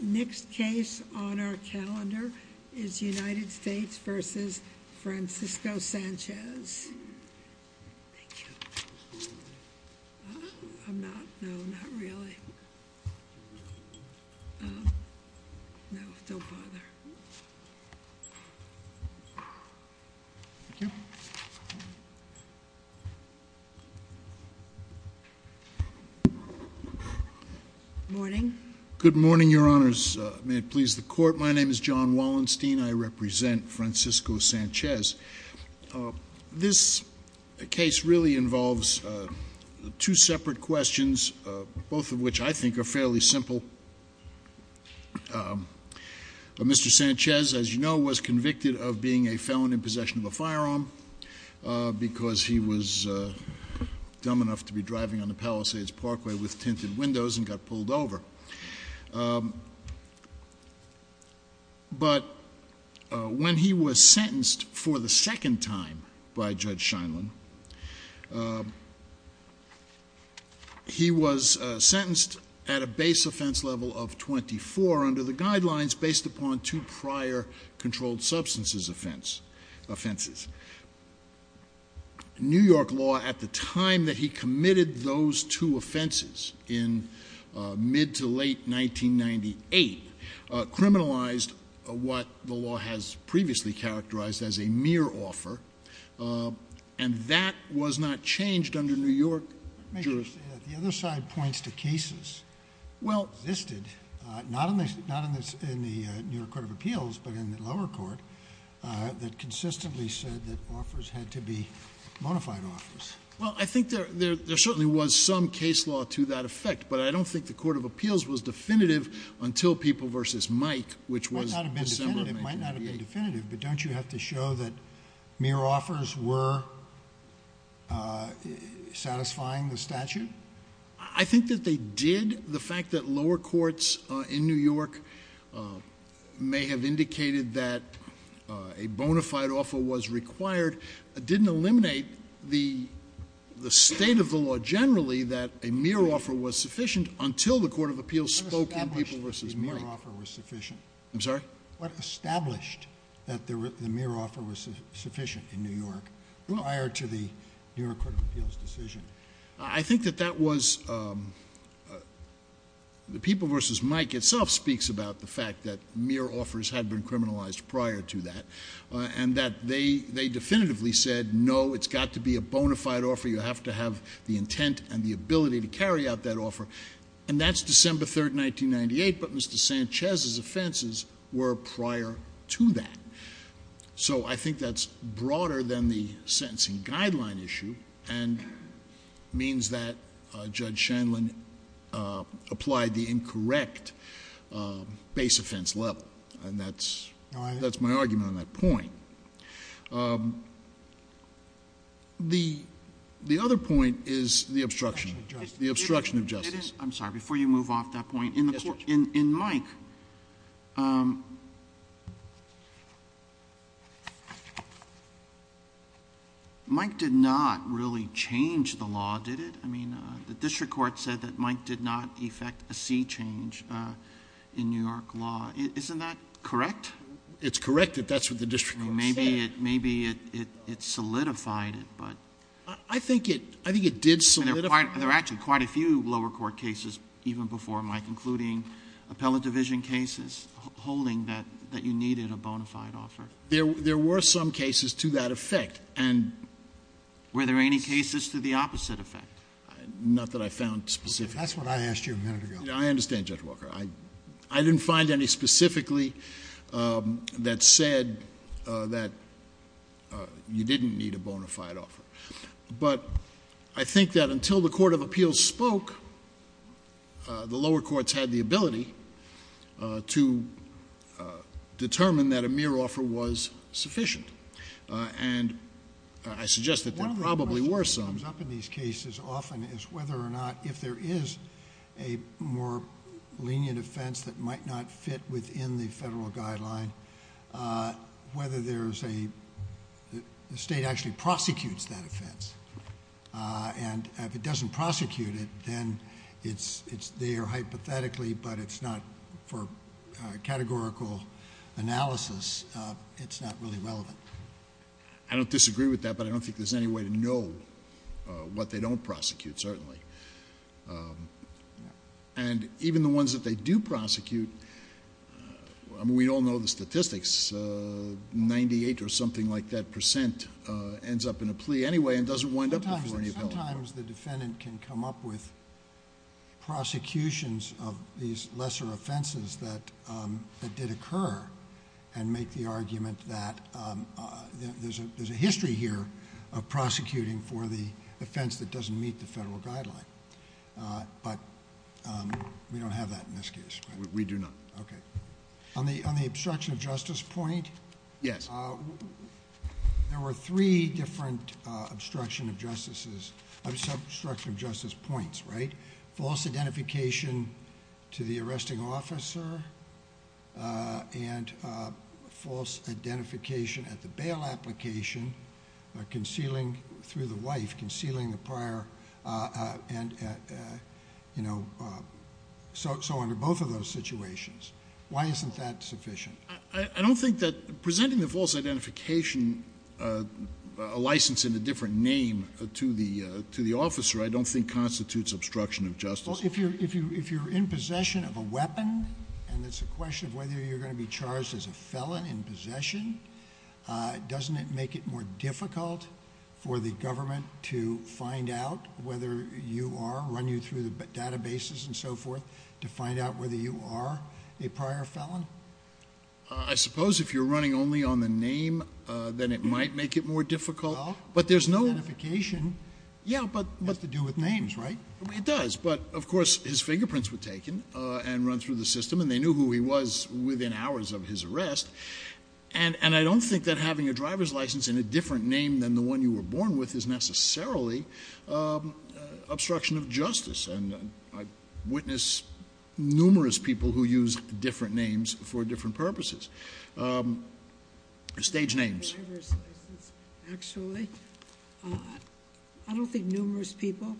Next case on our calendar is United States v. Francisco Sanchez. Thank you. I'm not, no, not really. No, don't bother. Thank you. Morning. Good morning, Your Honors. May it please the Court. My name is John Wallenstein. I represent Francisco Sanchez. This case really involves two separate questions, both of which I think are fairly simple. Mr. Sanchez, as you know, was convicted of being a felon in possession of a firearm because he was dumb enough to be driving on the Palisades Parkway with tinted windows and got pulled over. But when he was sentenced for the second time by Judge Scheinlein, he was sentenced at a base offense level of 24 under the guidelines based upon two prior controlled substances offenses. New York law at the time that he committed those two offenses in mid to late 1998 criminalized what the law has previously characterized as a mere offer, and that was not changed under New York jurisdiction. Well, I think there certainly was some case law to that effect, but I don't think the Court of Appeals was definitive until People v. Mike, which was December 1998. But don't you have to show that mere offers were satisfying the statute? I think that they did. The fact that lower courts in New York may have indicated that a bona fide offer was required didn't eliminate the state of the law generally that a mere offer was sufficient until the Court of Appeals spoke in People v. Mike. What established the mere offer was sufficient? I'm sorry? What established that the mere offer was sufficient in New York prior to the New York Court of Appeals decision? I think that that was the People v. Mike itself speaks about the fact that mere offers had been criminalized prior to that. And that they definitively said, no, it's got to be a bona fide offer. You have to have the intent and the ability to carry out that offer. And that's December 3, 1998. But Mr. Sanchez's offenses were prior to that. So I think that's broader than the sentencing guideline issue and means that Judge Shanlin applied the incorrect base offense level. And that's my argument on that point. The other point is the obstruction of justice. I'm sorry. Before you move off that point, in Mike, Mike did not really change the law, did it? I mean, the district court said that Mike did not effect a C change in New York law. Isn't that correct? It's correct that that's what the district court said. Maybe it solidified it. I think it did solidify it. There were actually quite a few lower court cases even before Mike, including appellate division cases, holding that you needed a bona fide offer. There were some cases to that effect. Were there any cases to the opposite effect? Not that I found specific. That's what I asked you a minute ago. I understand, Judge Walker. I didn't find any specifically that said that you didn't need a bona fide offer. But I think that until the court of appeals spoke, the lower courts had the ability to determine that a mere offer was sufficient. And I suggest that there probably were some. One of the questions that comes up in these cases often is whether or not if there is a more lenient offense that might not fit within the federal guideline, whether the state actually prosecutes that offense. And if it doesn't prosecute it, then it's there hypothetically, but it's not for categorical analysis. It's not really relevant. I don't disagree with that, but I don't think there's any way to know what they don't prosecute, certainly. And even the ones that they do prosecute, I mean, we all know the statistics. Ninety-eight or something like that percent ends up in a plea anyway and doesn't wind up before any appeal. Sometimes the defendant can come up with prosecutions of these lesser offenses that did occur and make the argument that there's a history here of prosecuting for the offense that doesn't meet the federal guideline. But we don't have that in this case. We do not. Okay. On the obstruction of justice point. Yes. There were three different obstruction of justice points, right? False identification to the arresting officer and false identification at the bail application, concealing through the wife, concealing the prior and so on in both of those situations. Why isn't that sufficient? I don't think that presenting the false identification license in a different name to the officer I don't think constitutes obstruction of justice. Well, if you're in possession of a weapon and it's a question of whether you're going to be charged as a felon in possession, doesn't it make it more difficult for the government to find out whether you are run you through the databases and so forth to find out whether you are a prior felon? I suppose if you're running only on the name, then it might make it more difficult. But there's no indication. Yeah, but what to do with names, right? It does. But, of course, his fingerprints were taken and run through the system and they knew who he was within hours of his arrest. And I don't think that having a driver's license in a different name than the one you were born with is necessarily obstruction of justice. And I witness numerous people who use different names for different purposes. Stage names. Actually, I don't think numerous people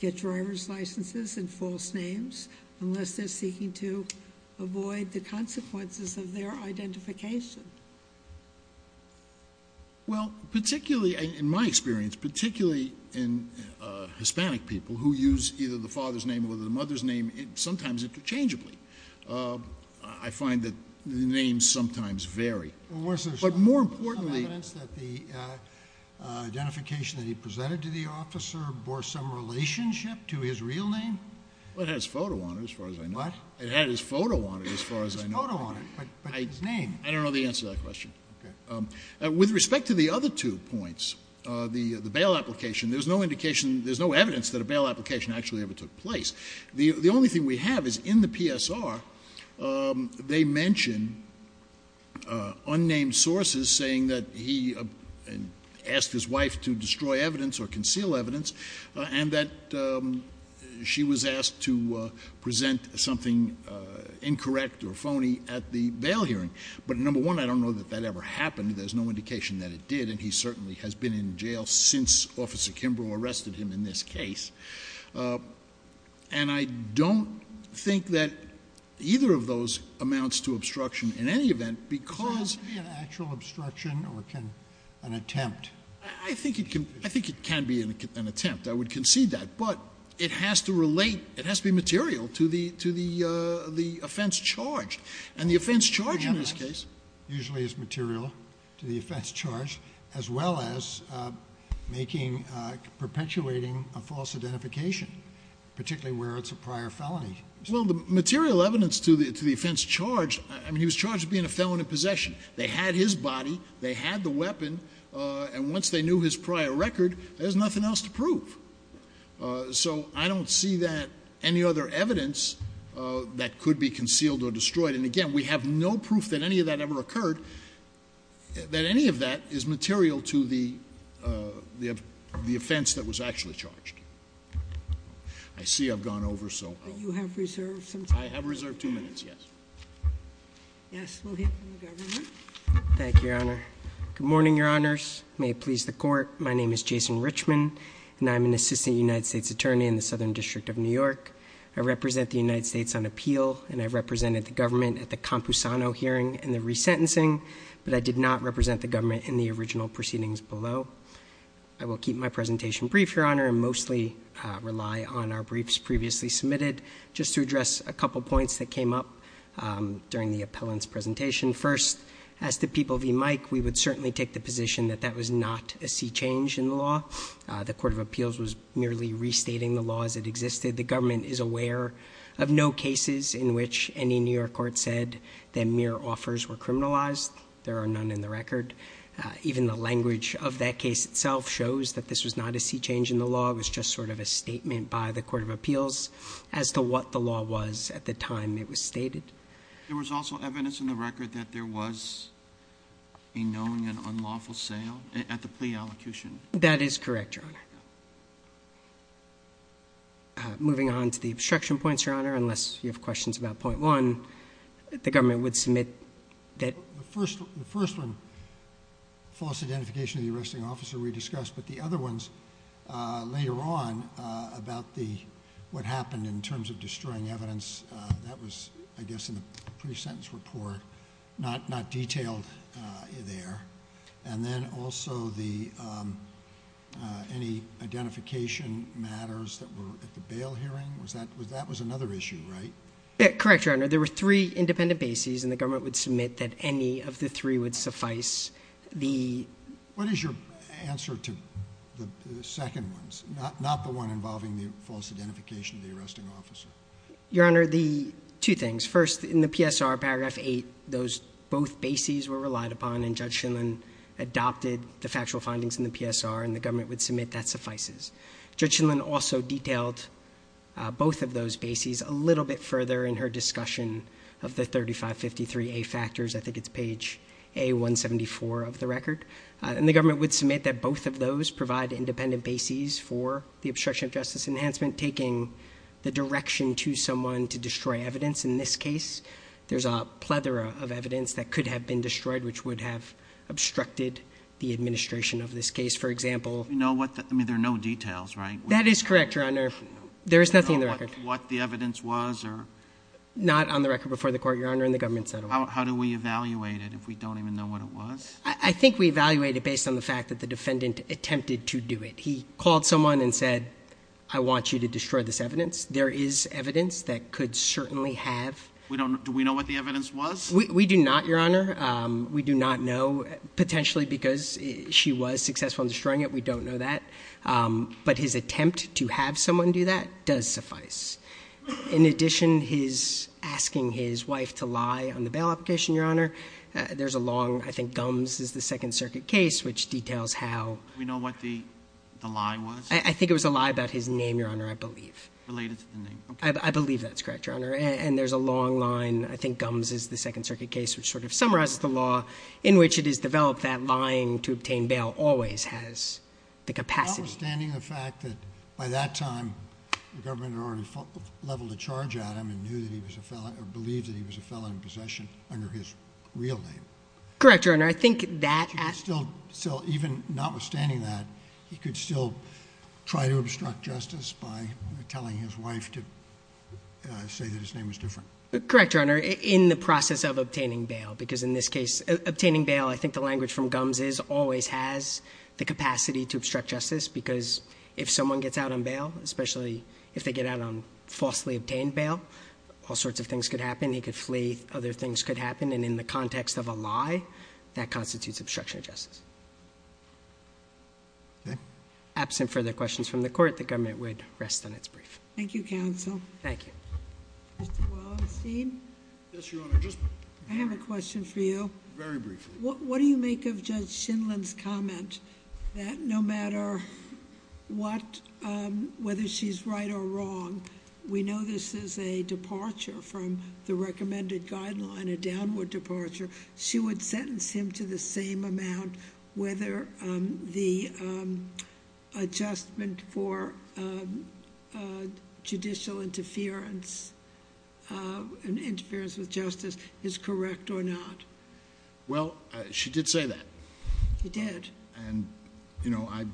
get driver's licenses and false names unless they're seeking to avoid the consequences of their identification. Well, particularly in my experience, particularly in Hispanic people who use either the father's name or the mother's name, sometimes interchangeably, I find that the names sometimes vary. Well, was there some evidence that the identification that he presented to the officer bore some relationship to his real name? Well, it had his photo on it, as far as I know. What? It had his photo on it, as far as I know. His photo on it, but his name? I don't know the answer to that question. Okay. With respect to the other two points, the bail application, there's no indication there's no evidence that a bail application actually ever took place. The only thing we have is in the PSR, they mention unnamed sources saying that he asked his wife to destroy evidence or conceal evidence and that she was asked to present something incorrect or phony at the bail hearing. But, number one, I don't know that that ever happened. There's no indication that it did. And he certainly has been in jail since Officer Kimbrough arrested him in this case. And I don't think that either of those amounts to obstruction in any event, because So it can't be an actual obstruction or an attempt? I think it can be an attempt. I would concede that. But it has to relate, it has to be material to the offense charged. And the offense charged in this case usually is material to the offense charged, as well as making, perpetuating a false identification, particularly where it's a prior felony. Well, the material evidence to the offense charged, I mean, he was charged with being a felon in possession. They had his body. They had the weapon. And once they knew his prior record, there's nothing else to prove. So I don't see that any other evidence that could be concealed or destroyed. And again, we have no proof that any of that ever occurred, that any of that is material to the offense that was actually charged. I see I've gone over, so I'll- But you have reserved some time. I have reserved two minutes, yes. Yes, we'll hear from the government. Thank you, Your Honor. Good morning, Your Honors. May it please the Court. My name is Jason Richman, and I'm an Assistant United States Attorney in the Southern District of New York. I represent the United States on appeal, and I represented the government at the Campusano hearing and the resentencing. But I did not represent the government in the original proceedings below. I will keep my presentation brief, Your Honor, and mostly rely on our briefs previously submitted, just to address a couple points that came up during the appellant's presentation. First, as to People v. Mike, we would certainly take the position that that was not a sea change in the law. The Court of Appeals was merely restating the law as it existed. The government is aware of no cases in which any New York court said that mere offers were criminalized. There are none in the record. Even the language of that case itself shows that this was not a sea change in the law. It was just sort of a statement by the Court of Appeals as to what the law was at the time it was stated. There was also evidence in the record that there was a known and unlawful sale at the plea allocution. That is correct, Your Honor. Moving on to the obstruction points, Your Honor, unless you have questions about point one, the government would submit that- The first one, false identification of the arresting officer, we discussed. But the other ones later on about what happened in terms of destroying evidence, that was, I guess, in the pre-sentence report, not detailed there. And then also any identification matters that were at the bail hearing, that was another issue, right? Correct, Your Honor. There were three independent bases, and the government would submit that any of the three would suffice. What is your answer to the second ones, not the one involving the false identification of the arresting officer? Your Honor, two things. First, in the PSR, Paragraph 8, both bases were relied upon, and Judge Shindlin adopted the factual findings in the PSR, and the government would submit that suffices. Judge Shindlin also detailed both of those bases a little bit further in her discussion of the 3553A factors. I think it's page A174 of the record. And the government would submit that both of those provide independent bases for the obstruction of justice enhancement, taking the direction to someone to destroy evidence. In this case, there's a plethora of evidence that could have been destroyed, which would have obstructed the administration of this case. For example— You know what the—I mean, there are no details, right? That is correct, Your Honor. There is nothing in the record. You don't know what the evidence was or— Not on the record before the court, Your Honor, and the government's not aware. How do we evaluate it if we don't even know what it was? I think we evaluate it based on the fact that the defendant attempted to do it. He called someone and said, I want you to destroy this evidence. There is evidence that could certainly have— Do we know what the evidence was? We do not, Your Honor. We do not know, potentially because she was successful in destroying it. We don't know that. But his attempt to have someone do that does suffice. In addition, his asking his wife to lie on the bail application, Your Honor, there's a long—I think Gumbs is the Second Circuit case, which details how— Do we know what the lie was? I think it was a lie about his name, Your Honor, I believe. Related to the name. I believe that's correct, Your Honor. And there's a long line—I think Gumbs is the Second Circuit case, which sort of summarizes the law, in which it is developed that lying to obtain bail always has the capacity— Notwithstanding the fact that by that time the government had already leveled a charge at him and knew that he was a felon or believed that he was a felon in possession under his real name. Correct, Your Honor. I think that— He could still, even notwithstanding that, he could still try to obstruct justice by telling his wife to say that his name was different. Correct, Your Honor. In the process of obtaining bail, because in this case—obtaining bail, I think the language from Gumbs is always has the capacity to obstruct justice because if someone gets out on bail, especially if they get out on falsely obtained bail, all sorts of things could happen. He could flee. Other things could happen. And in the context of a lie, that constitutes obstruction of justice. Okay. Absent further questions from the Court, the government would rest on its brief. Thank you, counsel. Thank you. Mr. Wallenstein? Yes, Your Honor. I have a question for you. Very briefly. What do you make of Judge Shindlin's comment that no matter what—whether she's right or wrong, we know this is a departure from the recommended guideline, a downward departure. She would sentence him to the same amount whether the adjustment for judicial interference and interference with justice is correct or not? Well, she did say that. She did. And, you know, I—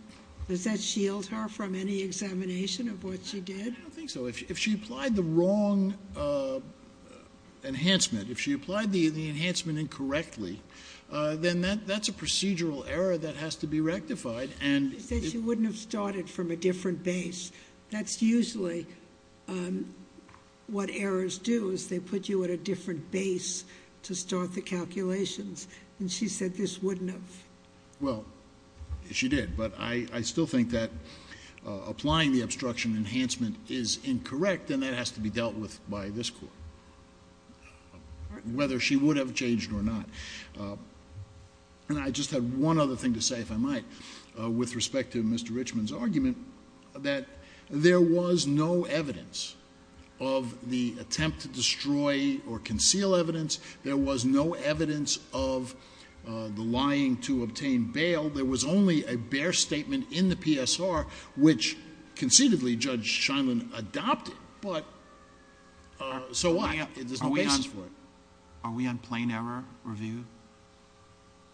Does that shield her from any examination of what she did? I don't think so. If she applied the wrong enhancement, if she applied the enhancement incorrectly, then that's a procedural error that has to be rectified and— But she wouldn't have started from a different base. That's usually what errors do, is they put you at a different base to start the calculations. And she said this wouldn't have. Well, she did. But I still think that applying the obstruction enhancement is incorrect, and that has to be dealt with by this Court, whether she would have changed or not. And I just had one other thing to say, if I might, with respect to Mr. Richman's argument, that there was no evidence of the attempt to destroy or conceal evidence. There was no evidence of the lying to obtain bail. There was only a bare statement in the PSR which concededly Judge Shindlin adopted, but so what? There's no basis for it. Are we on plain error review?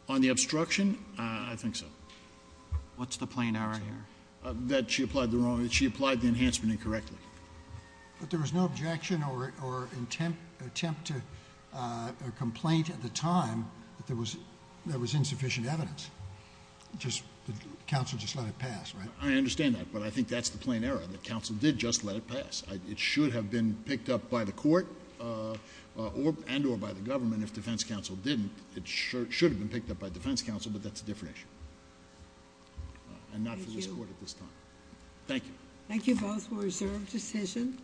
On the obstruction? I think so. What's the plain error here? That she applied the enhancement incorrectly. But there was no objection or attempt to complaint at the time that there was insufficient evidence. Just that counsel just let it pass, right? I understand that, but I think that's the plain error, that counsel did just let it pass. It should have been picked up by the Court and or by the government if defense counsel didn't. It should have been picked up by defense counsel, but that's a different issue. And not for this Court at this time. Thank you. Thank you both for a reserved decision.